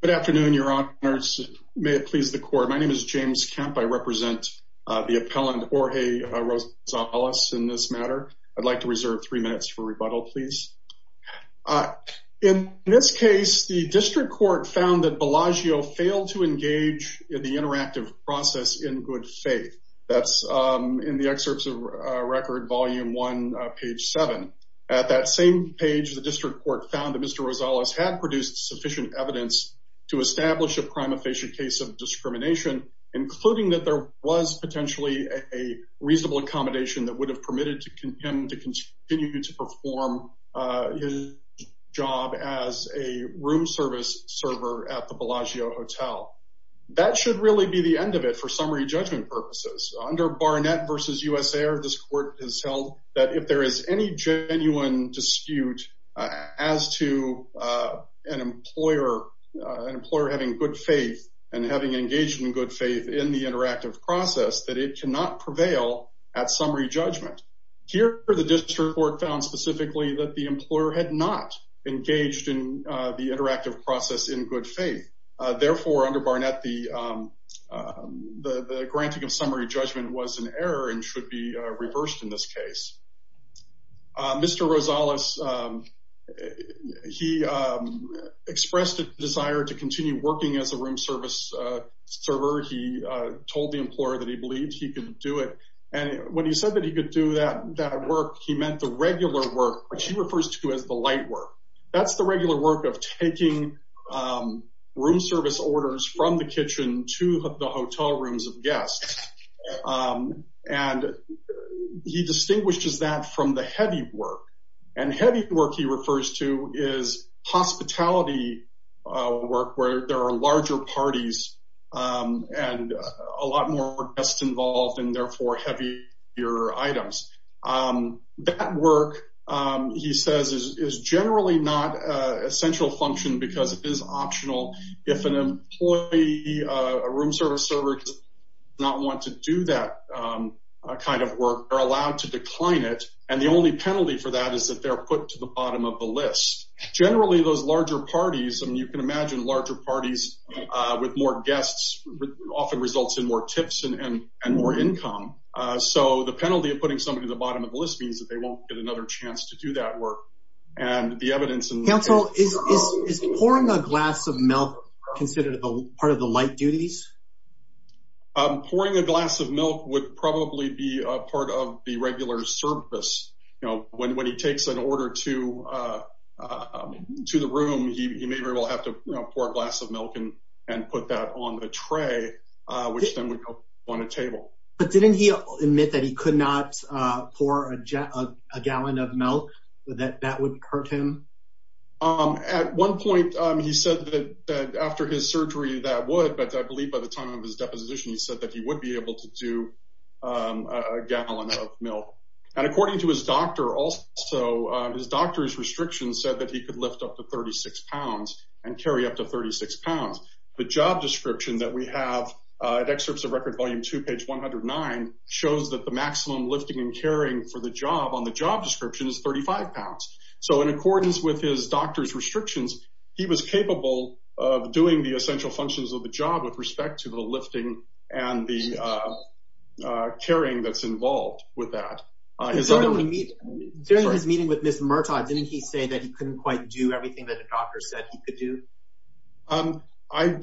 Good afternoon, your honors. May it please the court. My name is James Kemp. I represent the appellant Jorge Rosales in this matter. I'd like to reserve three minutes for rebuttal, please. In this case, the district court found that Bellagio failed to engage in the interactive process in good faith. That's in the excerpts of record volume one, page seven. At that same page, the district court found that Mr. Rosales had produced sufficient evidence to establish a crime of facial case of discrimination, including that there was potentially a reasonable accommodation that would have permitted to continue to perform his job as a room service server at the Bellagio Hotel. That should really be the end of it for summary judgment purposes. Under Barnett v. US Air, this court has held that if there is any genuine dispute as to an employer having good faith and having engaged in good faith in the interactive process, that it cannot prevail at summary judgment. Here, the district court found specifically that the employer had not engaged in the interactive process in good faith. Therefore, under Barnett, the granting of summary judgment was an error and should be reversed in this case. Mr. Rosales, he expressed a desire to continue working as a room service server. He told the employer that he believed he could do it. And when he said that he could do that work, he meant the regular work, which he refers to as the light work. That's the regular work of taking room service orders from the kitchen to the hotel rooms of guests. And he distinguishes that from the heavy work. And heavy work he refers to is hospitality work where there are larger parties and a lot more guests involved and therefore heavier items. That work, he says, is generally not a central function because it is optional. If an employee, a room service server, does not want to do that kind of work, they're allowed to decline it. And the only penalty for that is that they're put to the bottom of the list. Generally, those larger parties, and you can imagine larger parties with more guests, often results in more tips and more income. So the penalty of putting somebody at the bottom of the list means that they won't get another chance to do that work. Counsel, is pouring a glass of milk considered part of the light duties? Pouring a glass of milk would probably be a part of the regular service. When he takes an order to the room, he maybe will have to pour a glass of milk and put that on the tray, which then would go on a table. But didn't he admit that he could not pour a gallon of milk, that that would hurt him? At one point, he said that after his surgery that would, but I believe by the time of his deposition, he said that he would be able to do a gallon of milk. And according to his doctor, his doctor's restrictions said that he could lift up to 36 pounds and carry up to 36 pounds. The job description that we have at Excerpts of Record Volume 2, page 109, shows that the maximum lifting and carrying for the job on the job description is 35 pounds. So in accordance with his doctor's restrictions, he was capable of doing the essential functions of the job with respect to the lifting and the carrying that's involved with that. During his meeting with Ms. Murtaugh, didn't he say that he couldn't quite do everything that a doctor said he could do? I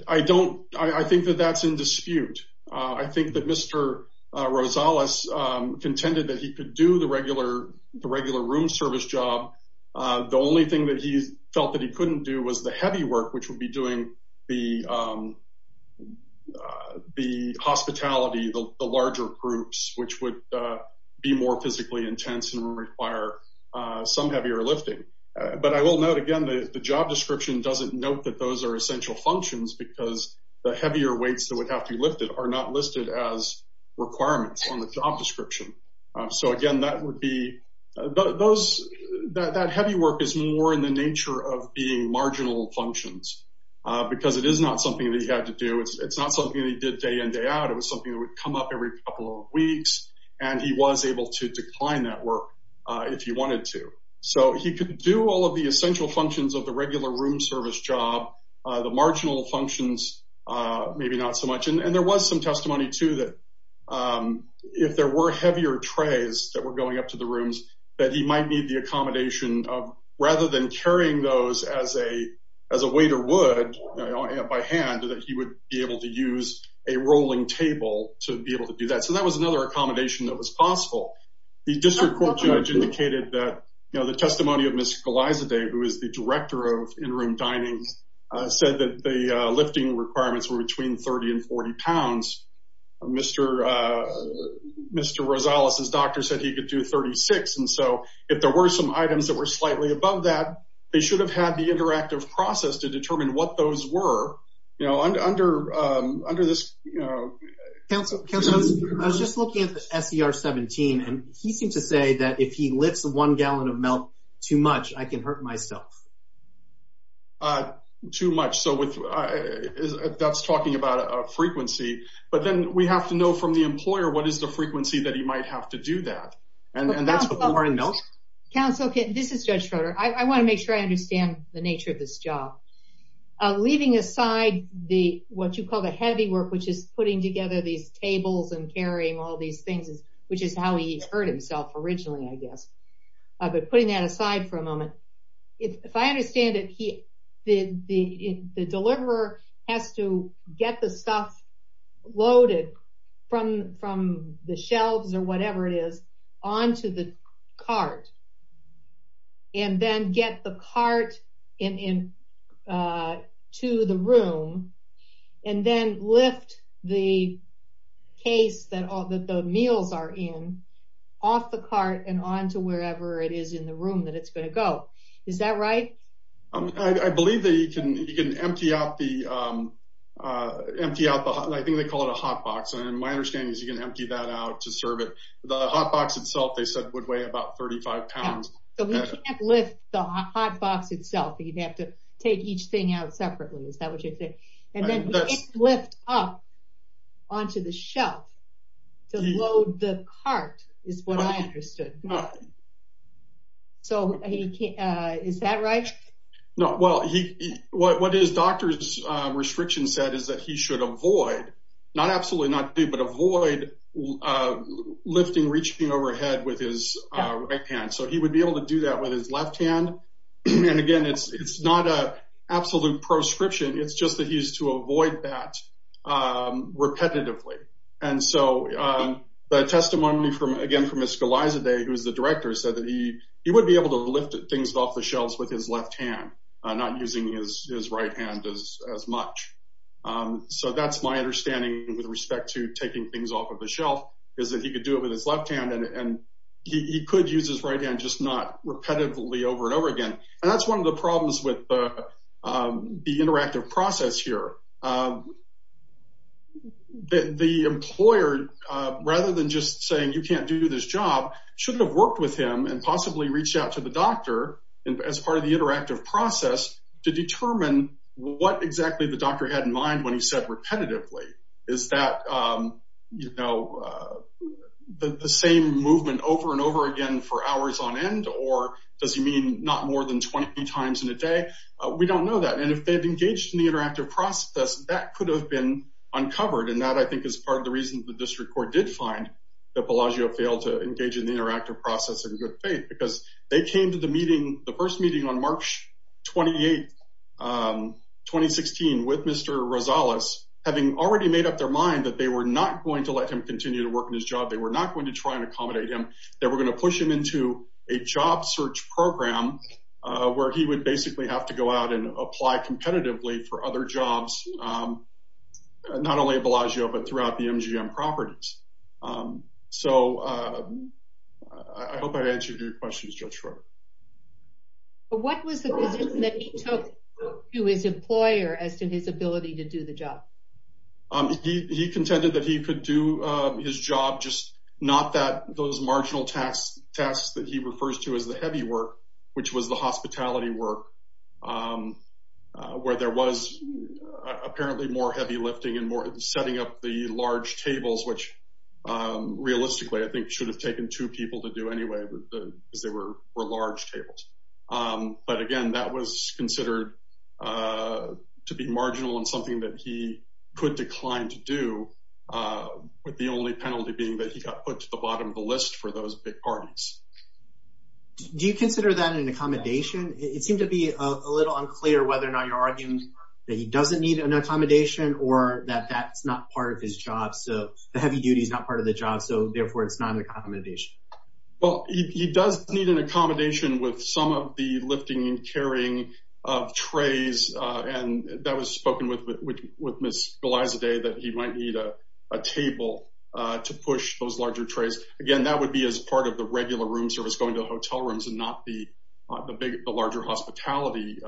think that that's in dispute. I think that Mr. Rosales contended that he could do the regular room service job. The only thing that he felt that he couldn't do was the heavy work, which would be doing the hospitality, the larger groups, which would be more physically intense and require some heavier lifting. But I will note, again, that the job description doesn't note that those are essential functions because the heavier weights that would have to be lifted are not listed as requirements on the job description. So again, that would be – that heavy work is more in the nature of being marginal functions because it is not something that he had to do. It's not something that he did day in, day out. It was something that would come up every couple of weeks, and he was able to decline that work if he wanted to. So he could do all of the essential functions of the regular room service job, the marginal functions maybe not so much. And there was some testimony, too, that if there were heavier trays that were going up to the rooms, that he might need the accommodation of rather than carrying those as a waiter would by hand, that he would be able to use a rolling table to be able to do that. So that was another accommodation that was possible. The district court judge indicated that the testimony of Ms. Galazade, who is the director of in-room dining, said that the lifting requirements were between 30 and 40 pounds. Mr. Rosales' doctor said he could do 36. And so if there were some items that were slightly above that, they should have had the interactive process to determine what those were. I was just looking at the SER-17, and he seemed to say that if he lifts one gallon of milk too much, I can hurt myself. Too much. So that's talking about a frequency. But then we have to know from the employer what is the frequency that he might have to do that. And that's the blue hearted milk? Counsel, this is Judge Schroeder. I want to make sure I understand the nature of this job. Leaving aside what you call the heavy work, which is putting together these tables and carrying all these things, which is how he hurt himself originally, I guess. But putting that aside for a moment, if I understand it, the deliverer has to get the stuff loaded from the shelves or whatever it is onto the cart. And then get the cart to the room. And then lift the case that the meals are in off the cart and onto wherever it is in the room that it's going to go. Is that right? I believe that you can empty out the, I think they call it a hot box. And my understanding is you can empty that out to serve it. The hot box itself, they said, would weigh about 35 pounds. So he can't lift the hot box itself. He'd have to take each thing out separately. Is that what you're saying? And then he can't lift up onto the shelf to load the cart is what I understood. So is that right? Well, what his doctor's restriction said is that he should avoid, not absolutely not do, but avoid lifting, reaching overhead with his right hand. So he would be able to do that with his left hand. And again, it's not an absolute proscription. It's just that he's to avoid that repetitively. And so the testimony, again, from Ms. Galazade, who is the director, said that he would be able to lift things off the shelves with his left hand, not using his right hand as much. So that's my understanding with respect to taking things off of the shelf, is that he could do it with his left hand, and he could use his right hand, just not repetitively over and over again. And that's one of the problems with the interactive process here. The employer, rather than just saying you can't do this job, should have worked with him and possibly reached out to the doctor as part of the interactive process to determine what exactly the doctor had in mind when he said repetitively. Is that, you know, the same movement over and over again for hours on end, or does he mean not more than 20 times in a day? We don't know that. And if they've engaged in the interactive process, that could have been uncovered. And that, I think, is part of the reason the district court did find that Bellagio failed to engage in the interactive process in good faith, because they came to the meeting, the first meeting on March 28, 2016, with Mr. Rosales, having already made up their mind that they were not going to let him continue to work in his job. They were not going to try and accommodate him. They were going to push him into a job search program where he would basically have to go out and apply competitively for other jobs, not only at Bellagio, but throughout the MGM properties. So I hope I've answered your questions, Judge Schroeder. What was the decision that he took to his employer as to his ability to do the job? He contended that he could do his job, just not those marginal tasks that he refers to as the heavy work, which was the hospitality work, where there was apparently more heavy lifting and setting up the large tables, which realistically, I think, should have taken two people to do anyway, because they were large tables. But again, that was considered to be marginal and something that he could decline to do, with the only penalty being that he got put to the bottom of the list for those big parties. Do you consider that an accommodation? It seemed to be a little unclear whether or not you're arguing that he doesn't need an accommodation or that that's not part of his job. So the heavy duty is not part of the job, so therefore, it's not an accommodation. Well, he does need an accommodation with some of the lifting and carrying of trays. And that was spoken with Ms. Galazade that he might need a table to push those larger trays. Again, that would be as part of the regular room service, going to hotel rooms and not the larger hospitality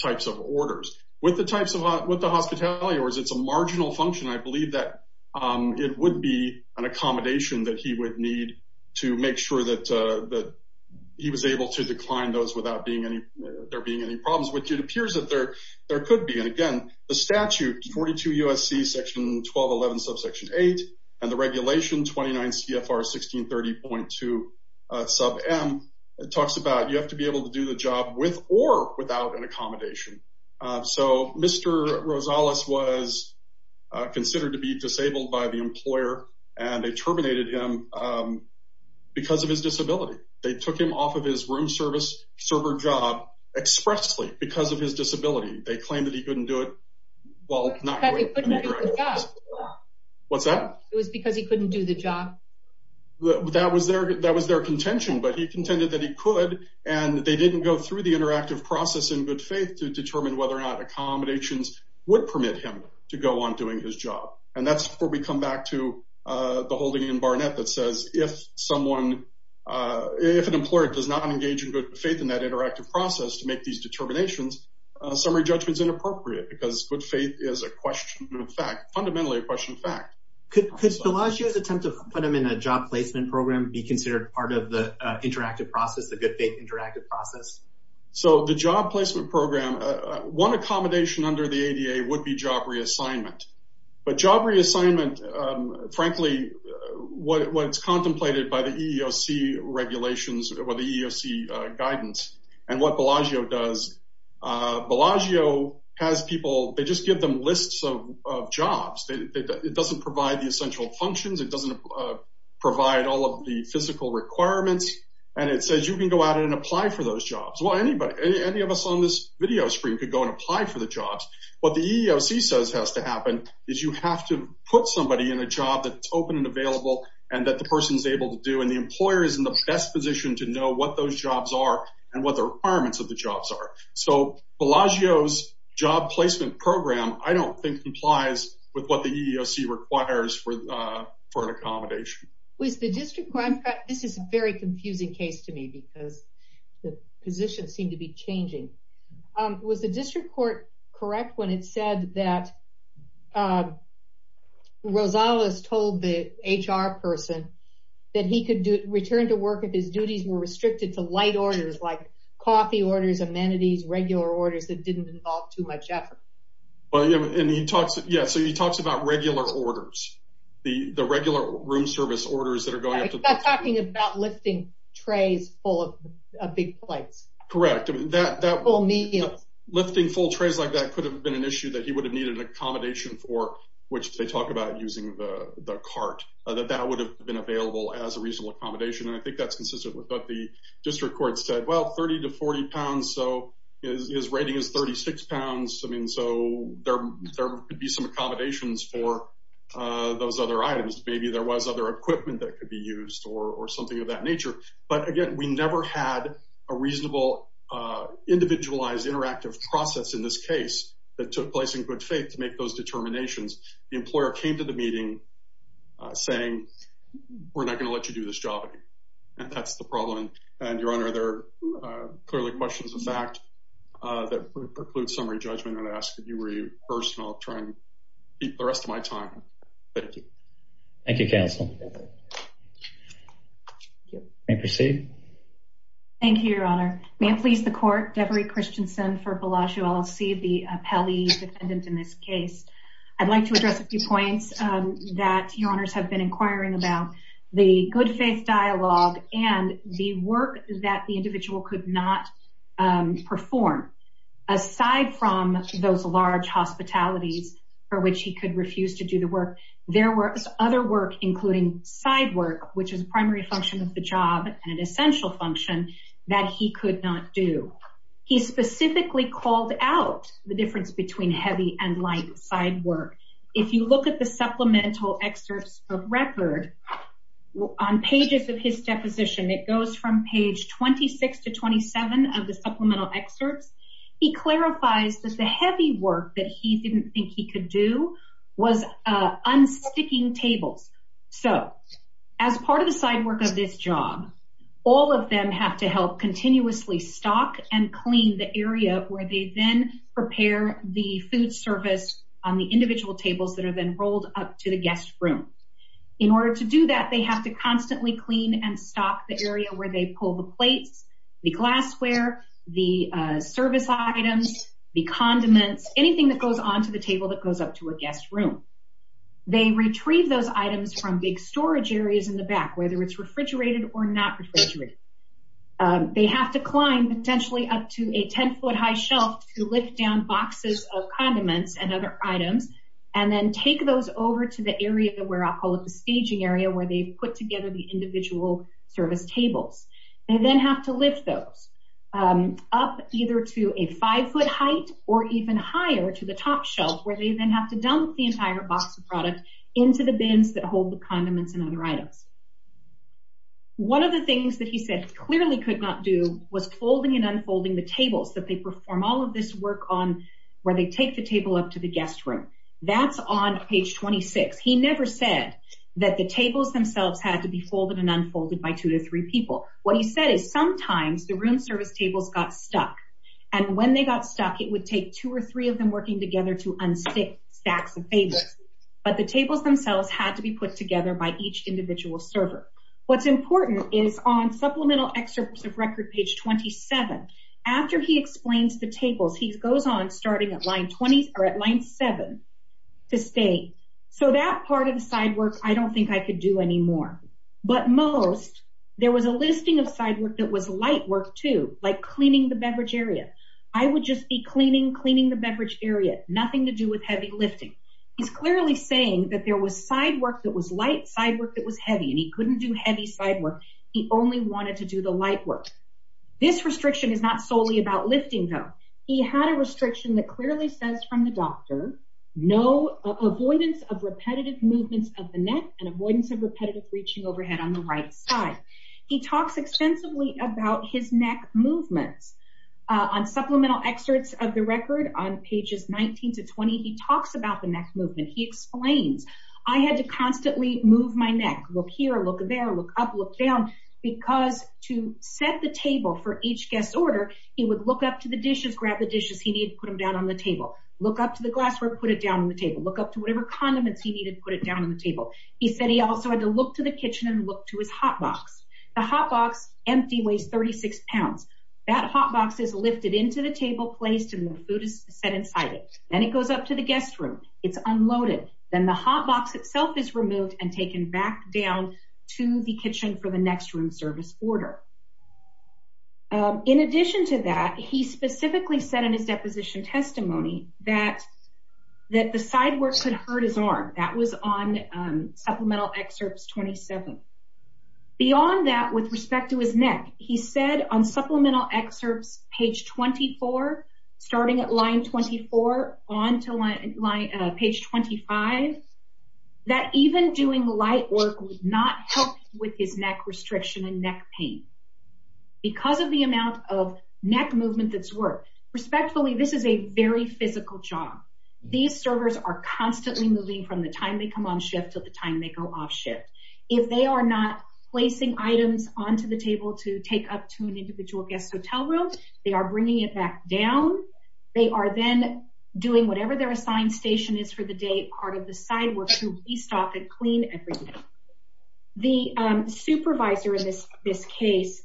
types of orders. With the hospitality orders, it's a marginal function. I believe that it would be an accommodation that he would need to make sure that he was able to decline those without there being any problems, which it appears that there could be. And again, the statute, 42 U.S.C. section 1211 subsection 8, and the regulation 29 CFR 1630.2 sub M, it talks about you have to be able to do the job with or without an accommodation. So Mr. Rosales was considered to be disabled by the employer, and they terminated him because of his disability. They took him off of his room service server job expressly because of his disability. They claimed that he couldn't do it. Because he couldn't do the job. What's that? It was because he couldn't do the job. That was their contention, but he contended that he could, and they didn't go through the interactive process in good faith to determine whether or not accommodations would permit him to go on doing his job. And that's where we come back to the holding in Barnett that says if someone, if an employer does not engage in good faith in that interactive process to make these determinations, summary judgment is inappropriate because good faith is a question of fact, fundamentally a question of fact. Could Bellagio's attempt to put him in a job placement program be considered part of the interactive process, the good faith interactive process? So the job placement program, one accommodation under the ADA would be job reassignment. But job reassignment, frankly, what's contemplated by the EEOC regulations or the EEOC guidance and what Bellagio does, Bellagio has people, they just give them lists of jobs. It doesn't provide the essential functions. It doesn't provide all of the physical requirements, and it says you can go out and apply for those jobs. Well, anybody, any of us on this video screen could go and apply for the jobs. What the EEOC says has to happen is you have to put somebody in a job that's open and available and that the person's able to do. And the employer is in the best position to know what those jobs are and what the requirements of the jobs are. So Bellagio's job placement program, I don't think, complies with what the EEOC requires for an accommodation. This is a very confusing case to me because the positions seem to be changing. Was the district court correct when it said that Rosales told the HR person that he could return to work if his duties were restricted to light orders like coffee orders, amenities, regular orders that didn't involve too much effort? Yeah, so he talks about regular orders, the regular room service orders that are going up to the- He's not talking about lifting trays full of big plates. Correct. Full meals. Lifting full trays like that could have been an issue that he would have needed an accommodation for, which they talk about using the cart, that that would have been available as a reasonable accommodation. And I think that's consistent with what the district court said. Well, 30 to 40 pounds, so his rating is 36 pounds. I mean, so there could be some accommodations for those other items. Maybe there was other equipment that could be used or something of that nature. But, again, we never had a reasonable individualized interactive process in this case that took place in good faith to make those determinations. The employer came to the meeting saying, we're not going to let you do this job. And that's the problem. And, Your Honor, there are clearly questions of fact that preclude summary judgment. And I ask that you rehearse, and I'll try and keep the rest of my time. Thank you. Thank you, counsel. Thank you. May I proceed? Thank you, Your Honor. May it please the court, Devery Christensen for Bellagio LLC, the appellee defendant in this case. I'd like to address a few points that Your Honors have been inquiring about. The good faith dialogue and the work that the individual could not perform, aside from those large hospitalities for which he could refuse to do the work. There was other work, including side work, which is a primary function of the job and an essential function that he could not do. He specifically called out the difference between heavy and light side work. If you look at the supplemental excerpts of record on pages of his deposition, it goes from page 26 to 27 of the supplemental excerpts. He clarifies that the heavy work that he didn't think he could do was unsticking tables. So, as part of the side work of this job, all of them have to help continuously stock and clean the area where they then prepare the food service on the individual tables that are then rolled up to the guest room. In order to do that, they have to constantly clean and stock the area where they pull the plates, the glassware, the service items, the condiments, anything that goes onto the table that goes up to a guest room. They retrieve those items from big storage areas in the back, whether it's refrigerated or not refrigerated. They have to climb potentially up to a 10-foot high shelf to lift down boxes of condiments and other items and then take those over to the area where I'll call it the staging area where they put together the individual service tables. They then have to lift those up either to a 5-foot height or even higher to the top shelf where they then have to dump the entire box of product into the bins that hold the condiments and other items. One of the things that he said clearly could not do was folding and unfolding the tables that they perform all of this work on where they take the table up to the guest room. That's on page 26. He never said that the tables themselves had to be folded and unfolded by two to three people. What he said is sometimes the room service tables got stuck, and when they got stuck, it would take two or three of them working together to unstick stacks of tables. But the tables themselves had to be put together by each individual server. What's important is on supplemental excerpts of record page 27, after he explains the tables, he goes on starting at line 7 to state, So that part of the side work, I don't think I could do anymore. But most, there was a listing of side work that was light work, too, like cleaning the beverage area. I would just be cleaning, cleaning the beverage area, nothing to do with heavy lifting. He's clearly saying that there was side work that was light, side work that was heavy, and he couldn't do heavy side work. He only wanted to do the light work. This restriction is not solely about lifting, though. He had a restriction that clearly says from the doctor, no avoidance of repetitive movements of the neck and avoidance of repetitive reaching overhead on the right side. He talks extensively about his neck movements. On supplemental excerpts of the record on pages 19 to 20, he talks about the neck movement. He explains, I had to constantly move my neck. Look here, look there, look up, look down, because to set the table for each guest's order, he would look up to the dishes, grab the dishes he needed, put them down on the table. Look up to the glassware, put it down on the table. Look up to whatever condiments he needed, put it down on the table. He said he also had to look to the kitchen and look to his hot box. The hot box, empty, weighs 36 pounds. That hot box is lifted into the table, placed, and the food is set inside it. Then it goes up to the guest room. It's unloaded. Then the hot box itself is removed and taken back down to the kitchen for the next room service order. In addition to that, he specifically said in his deposition testimony that the side works had hurt his arm. That was on supplemental excerpts 27. Beyond that, with respect to his neck, he said on supplemental excerpts page 24, starting at line 24 on to page 25, that even doing light work would not help with his neck restriction and neck pain. Because of the amount of neck movement that's worked. Respectfully, this is a very physical job. These servers are constantly moving from the time they come on shift to the time they go off shift. If they are not placing items onto the table to take up to an individual guest hotel room, they are bringing it back down. They are then doing whatever their assigned station is for the day, part of the side work, to restock and clean everything. The supervisor in this case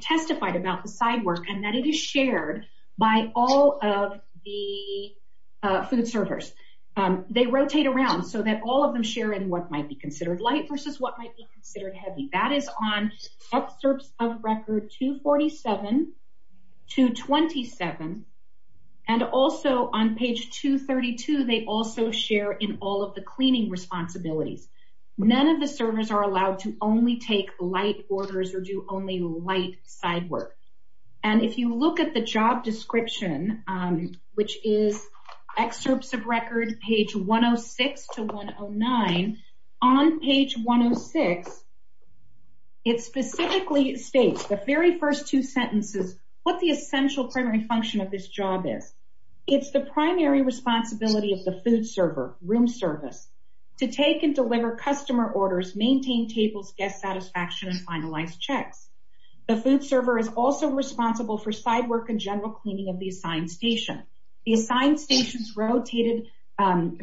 testified about the side work and that it is shared by all of the food servers. They rotate around so that all of them share in what might be considered light versus what might be considered heavy. That is on excerpts of record 247, 227, and also on page 232, they also share in all of the cleaning responsibilities. None of the servers are allowed to only take light orders or do only light side work. If you look at the job description, which is excerpts of record page 106 to 109, on page 106, it specifically states, the very first two sentences, what the essential primary function of this job is. It's the primary responsibility of the food server, room service, to take and deliver customer orders, maintain tables, guest satisfaction, and finalize checks. The food server is also responsible for side work and general cleaning of the assigned station. The assigned station is rotated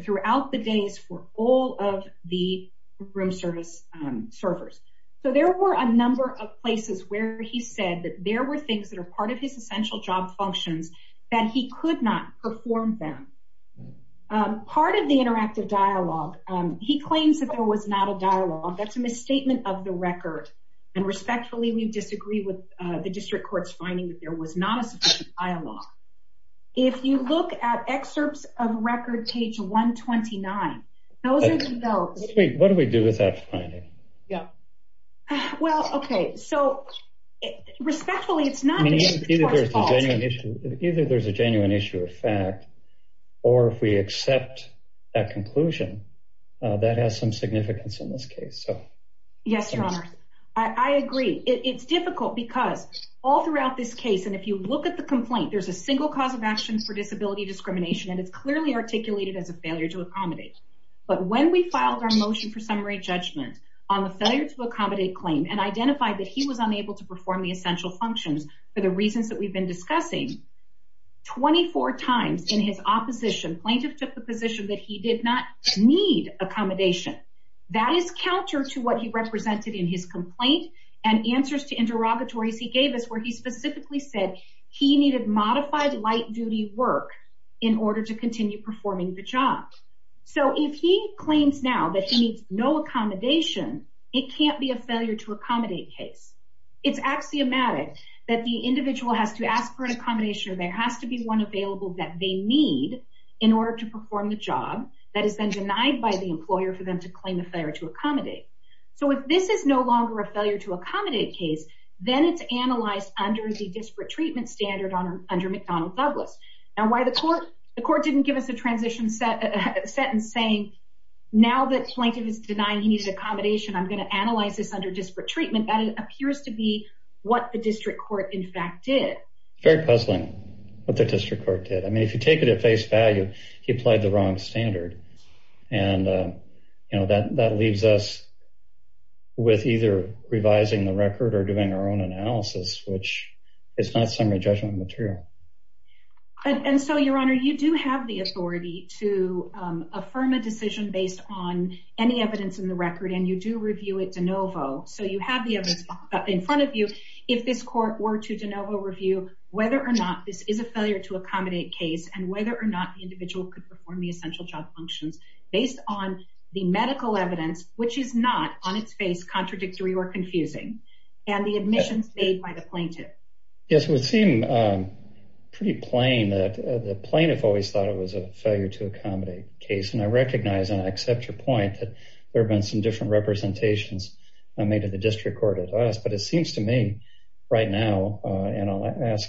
throughout the days for all of the room service servers. So there were a number of places where he said that there were things that are part of his essential job functions that he could not perform them. Part of the interactive dialogue, he claims that there was not a dialogue. That's a misstatement of the record. And respectfully, we disagree with the district court's finding that there was not a sufficient dialogue. If you look at excerpts of record page 129, those are developed. Wait, what do we do with that finding? Yeah. So respectfully, it's not the court's fault. Either there's a genuine issue of fact, or if we accept that conclusion, that has some significance in this case. Yes, Your Honor. I agree. It's difficult because all throughout this case, and if you look at the complaint, there's a single cause of action for disability discrimination, and it's clearly articulated as a failure to accommodate. But when we filed our motion for summary judgment on the failure to accommodate claim and identified that he was unable to perform the essential functions for the reasons that we've been discussing, 24 times in his opposition, plaintiff took the position that he did not need accommodation. That is counter to what he represented in his complaint and answers to interrogatories he gave us where he specifically said he needed modified light duty work in order to continue performing the job. So if he claims now that he needs no accommodation, it can't be a failure to accommodate case. It's axiomatic that the individual has to ask for an accommodation or there has to be one available that they need in order to perform the job that is then denied by the employer for them to claim a failure to accommodate. So if this is no longer a failure to accommodate case, then it's analyzed under the disparate treatment standard under McDonnell Douglas. Now, why the court didn't give us a transition sentence saying now that plaintiff is denying he needs accommodation, I'm going to analyze this under disparate treatment, that appears to be what the district court in fact did. Very puzzling what the district court did. I mean, if you take it at face value, he applied the wrong standard. And, you know, that leaves us with either revising the record or doing our own analysis, which is not summary judgment material. And so, Your Honor, you do have the authority to affirm a decision based on any evidence in the record and you do review it de novo. So you have the evidence in front of you. If this court were to de novo review whether or not this is a failure to accommodate case and whether or not the individual could perform the essential job functions based on the medical evidence, which is not on its face contradictory or confusing and the admissions made by the plaintiff. Yes, it would seem pretty plain that the plaintiff always thought it was a failure to accommodate case. And I recognize and I accept your point that there have been some different representations made to the district court at last. But it seems to me right now and I'll ask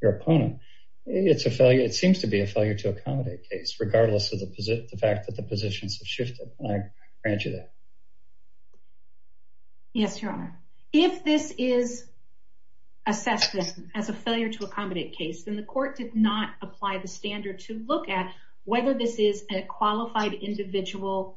your opponent. It's a failure. It seems to be a failure to accommodate case, regardless of the fact that the positions have shifted. Yes, Your Honor. If this is assessed as a failure to accommodate case, then the court did not apply the standard to look at whether this is a qualified individual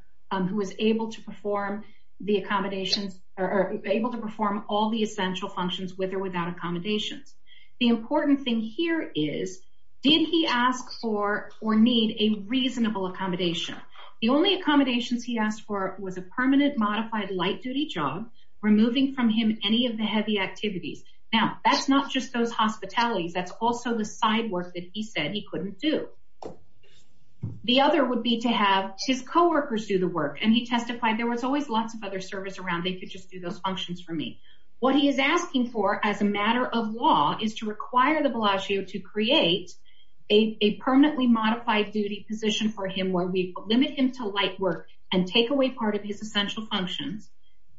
who is able to perform the accommodations or able to perform all the essential functions with or without accommodations. The important thing here is, did he ask for or need a reasonable accommodation? The only accommodations he asked for was a permanent modified light duty job, removing from him any of the heavy activities. Now, that's not just those hospitalities. That's also the side work that he said he couldn't do. The other would be to have his co-workers do the work. And he testified there was always lots of other service around. They could just do those functions for me. What he is asking for as a matter of law is to require the Bellagio to create a permanently modified duty position for him where we limit him to light work and take away part of his essential functions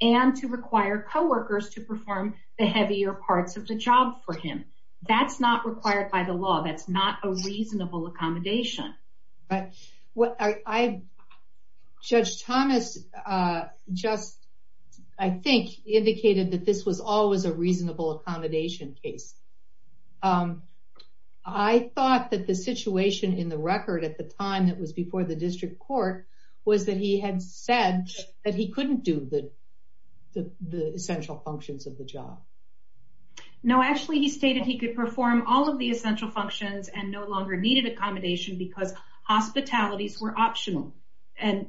and to require co-workers to perform the heavier parts of the job for him. That's not required by the law. That's not a reasonable accommodation. Judge Thomas just, I think, indicated that this was always a reasonable accommodation case. I thought that the situation in the record at the time that was before the district court was that he had said that he couldn't do the essential functions of the job. No, actually he stated he could perform all of the essential functions and no longer needed accommodation because hospitalities were optional. And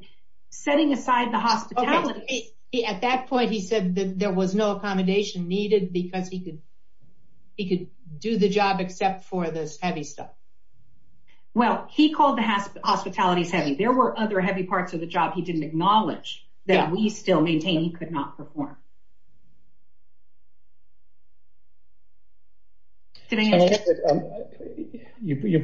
setting aside the hospitalities... At that point he said that there was no accommodation needed because he could do the job except for this heavy stuff. Well, he called the hospitalities heavy. There were other heavy parts of the job he didn't acknowledge that we still maintain he could not perform. You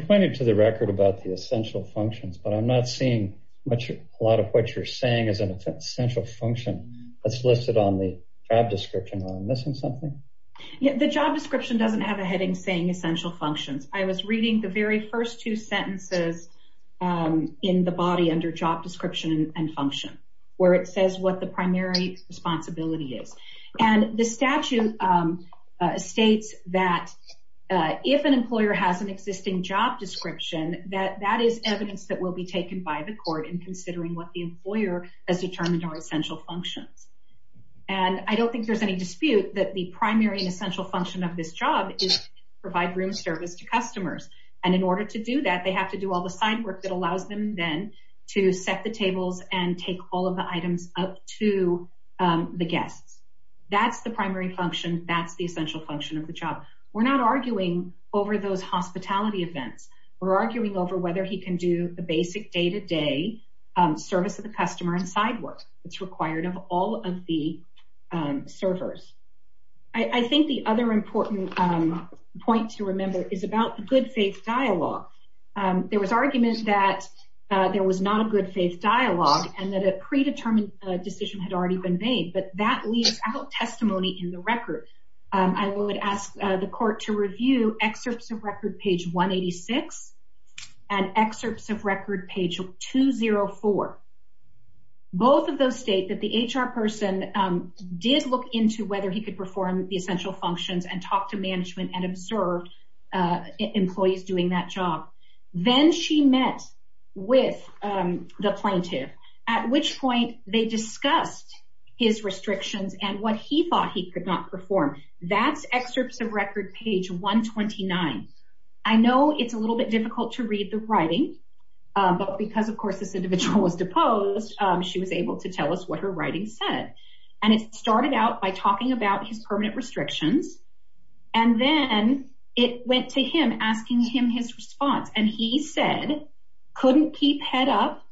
pointed to the record about the essential functions, but I'm not seeing a lot of what you're saying is an essential function that's listed on the job description. Am I missing something? The job description doesn't have a heading saying essential functions. I was reading the very first two sentences in the body under job description and function where it says what the primary responsibility is. And the statute states that if an employer has an existing job description, that that is evidence that will be taken by the court in considering what the employer has determined are essential functions. And I don't think there's any dispute that the primary and essential function of this job is to provide room service to customers. And in order to do that, they have to do all the side work that allows them then to set the tables and take all of the items up to the guests. That's the primary function. That's the essential function of the job. We're not arguing over those hospitality events. We're arguing over whether he can do the basic day-to-day service of the customer and side work that's required of all of the servers. I think the other important point to remember is about the good faith dialogue. There was argument that there was not a good faith dialogue and that a predetermined decision had already been made, but that leaves out testimony in the record. I would ask the court to review excerpts of record page 186 and excerpts of record page 204. Both of those state that the HR person did look into whether he could perform the essential functions and talk to management and observe employees doing that job. Then she met with the plaintiff, at which point they discussed his restrictions and what he thought he could not perform. That's excerpts of record page 129. I know it's a little bit difficult to read the writing, but because, of course, this individual was deposed, she was able to tell us what her writing said. It started out by talking about his permanent restrictions, and then it went to him, asking him his response. He said, couldn't keep head up,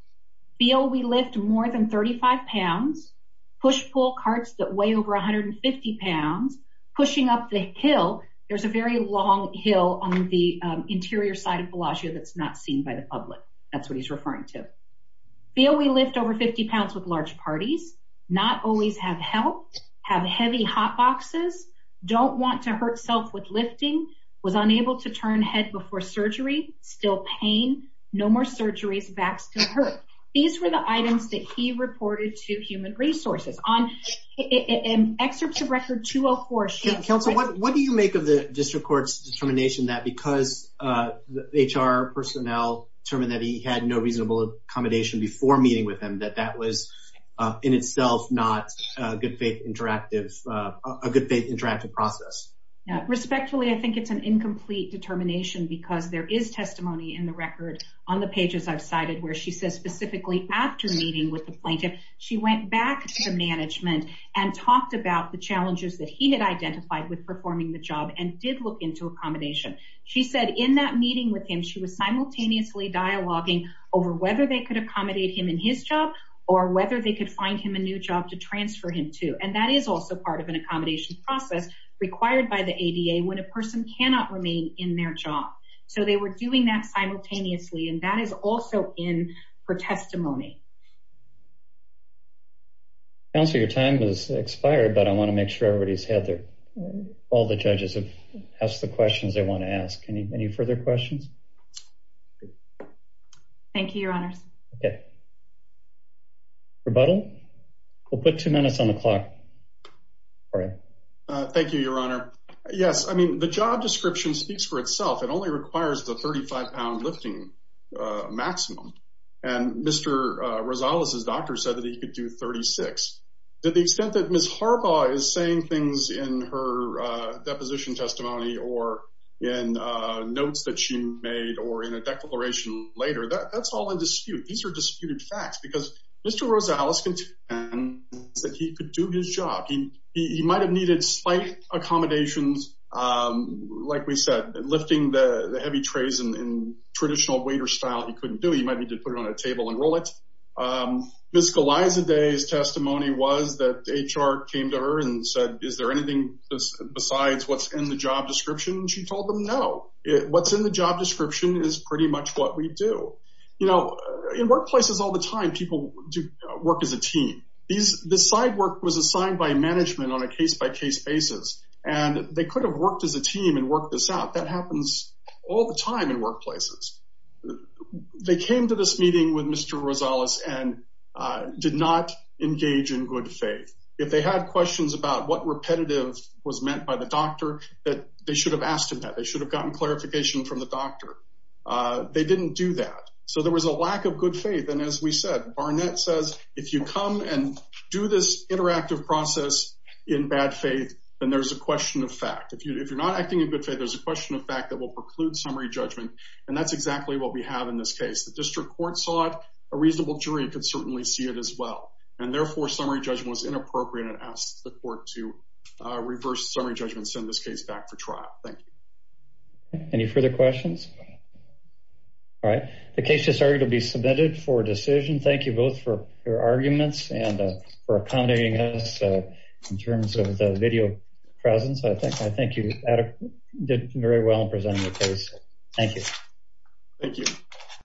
feel we lift more than 35 pounds, push-pull carts that weigh over 150 pounds, pushing up the hill. There's a very long hill on the interior side of Bellagio that's not seen by the public. That's what he's referring to. Feel we lift over 50 pounds with large parties. Not always have help. Have heavy hot boxes. Don't want to hurt self with lifting. Was unable to turn head before surgery. Still pain. No more surgeries. Back still hurt. These were the items that he reported to human resources. Excerpts of record 204. Counsel, what do you make of the district court's determination that because HR personnel determined that he had no reasonable accommodation before meeting with him, that that was in itself not a good faith interactive process? Respectfully, I think it's an incomplete determination because there is testimony in the record on the pages I've cited where she says specifically after meeting with the plaintiff, she went back to management and talked about the challenges that he had identified with performing the job and did look into accommodation. She said in that meeting with him, she was simultaneously dialoguing over whether they could accommodate him in his job or whether they could find him a new job to transfer him to. And that is also part of an accommodation process required by the ADA when a person cannot remain in their job. So they were doing that simultaneously, and that is also in her testimony. Counselor, your time was expired, but I want to make sure everybody's had their all the judges have asked the questions they want to ask. Any further questions? Thank you, Your Honors. Rebuttal. We'll put two minutes on the clock. Thank you, Your Honor. Yes, I mean, the job description speaks for itself. It only requires the 35-pound lifting maximum. And Mr. Rosales' doctor said that he could do 36. To the extent that Ms. Harbaugh is saying things in her deposition testimony or in notes that she made or in a declaration later, that's all in dispute. These are disputed facts because Mr. Rosales contends that he could do his job. He might have needed slight accommodations, like we said, lifting the heavy trays in traditional waiter style. He couldn't do it. He might need to put it on a table and roll it. Ms. Golizade's testimony was that HR came to her and said, is there anything besides what's in the job description? She told them no. What's in the job description is pretty much what we do. You know, in workplaces all the time, people work as a team. This side work was assigned by management on a case-by-case basis, and they could have worked as a team and worked this out. That happens all the time in workplaces. They came to this meeting with Mr. Rosales and did not engage in good faith. If they had questions about what repetitive was meant by the doctor, they should have asked him that. They should have gotten clarification from the doctor. They didn't do that. So there was a lack of good faith. And as we said, Barnett says if you come and do this interactive process in bad faith, then there's a question of fact. If you're not acting in good faith, there's a question of fact that will preclude summary judgment, and that's exactly what we have in this case. The district court sought a reasonable jury and could certainly see it as well, and therefore summary judgment was inappropriate and asked the court to reverse summary judgment and send this case back for trial. Any further questions? All right. The case has already been submitted for decision. Thank you both for your arguments and for accommodating us in terms of the video presence. I think you did very well in presenting the case. Thank you. Thank you.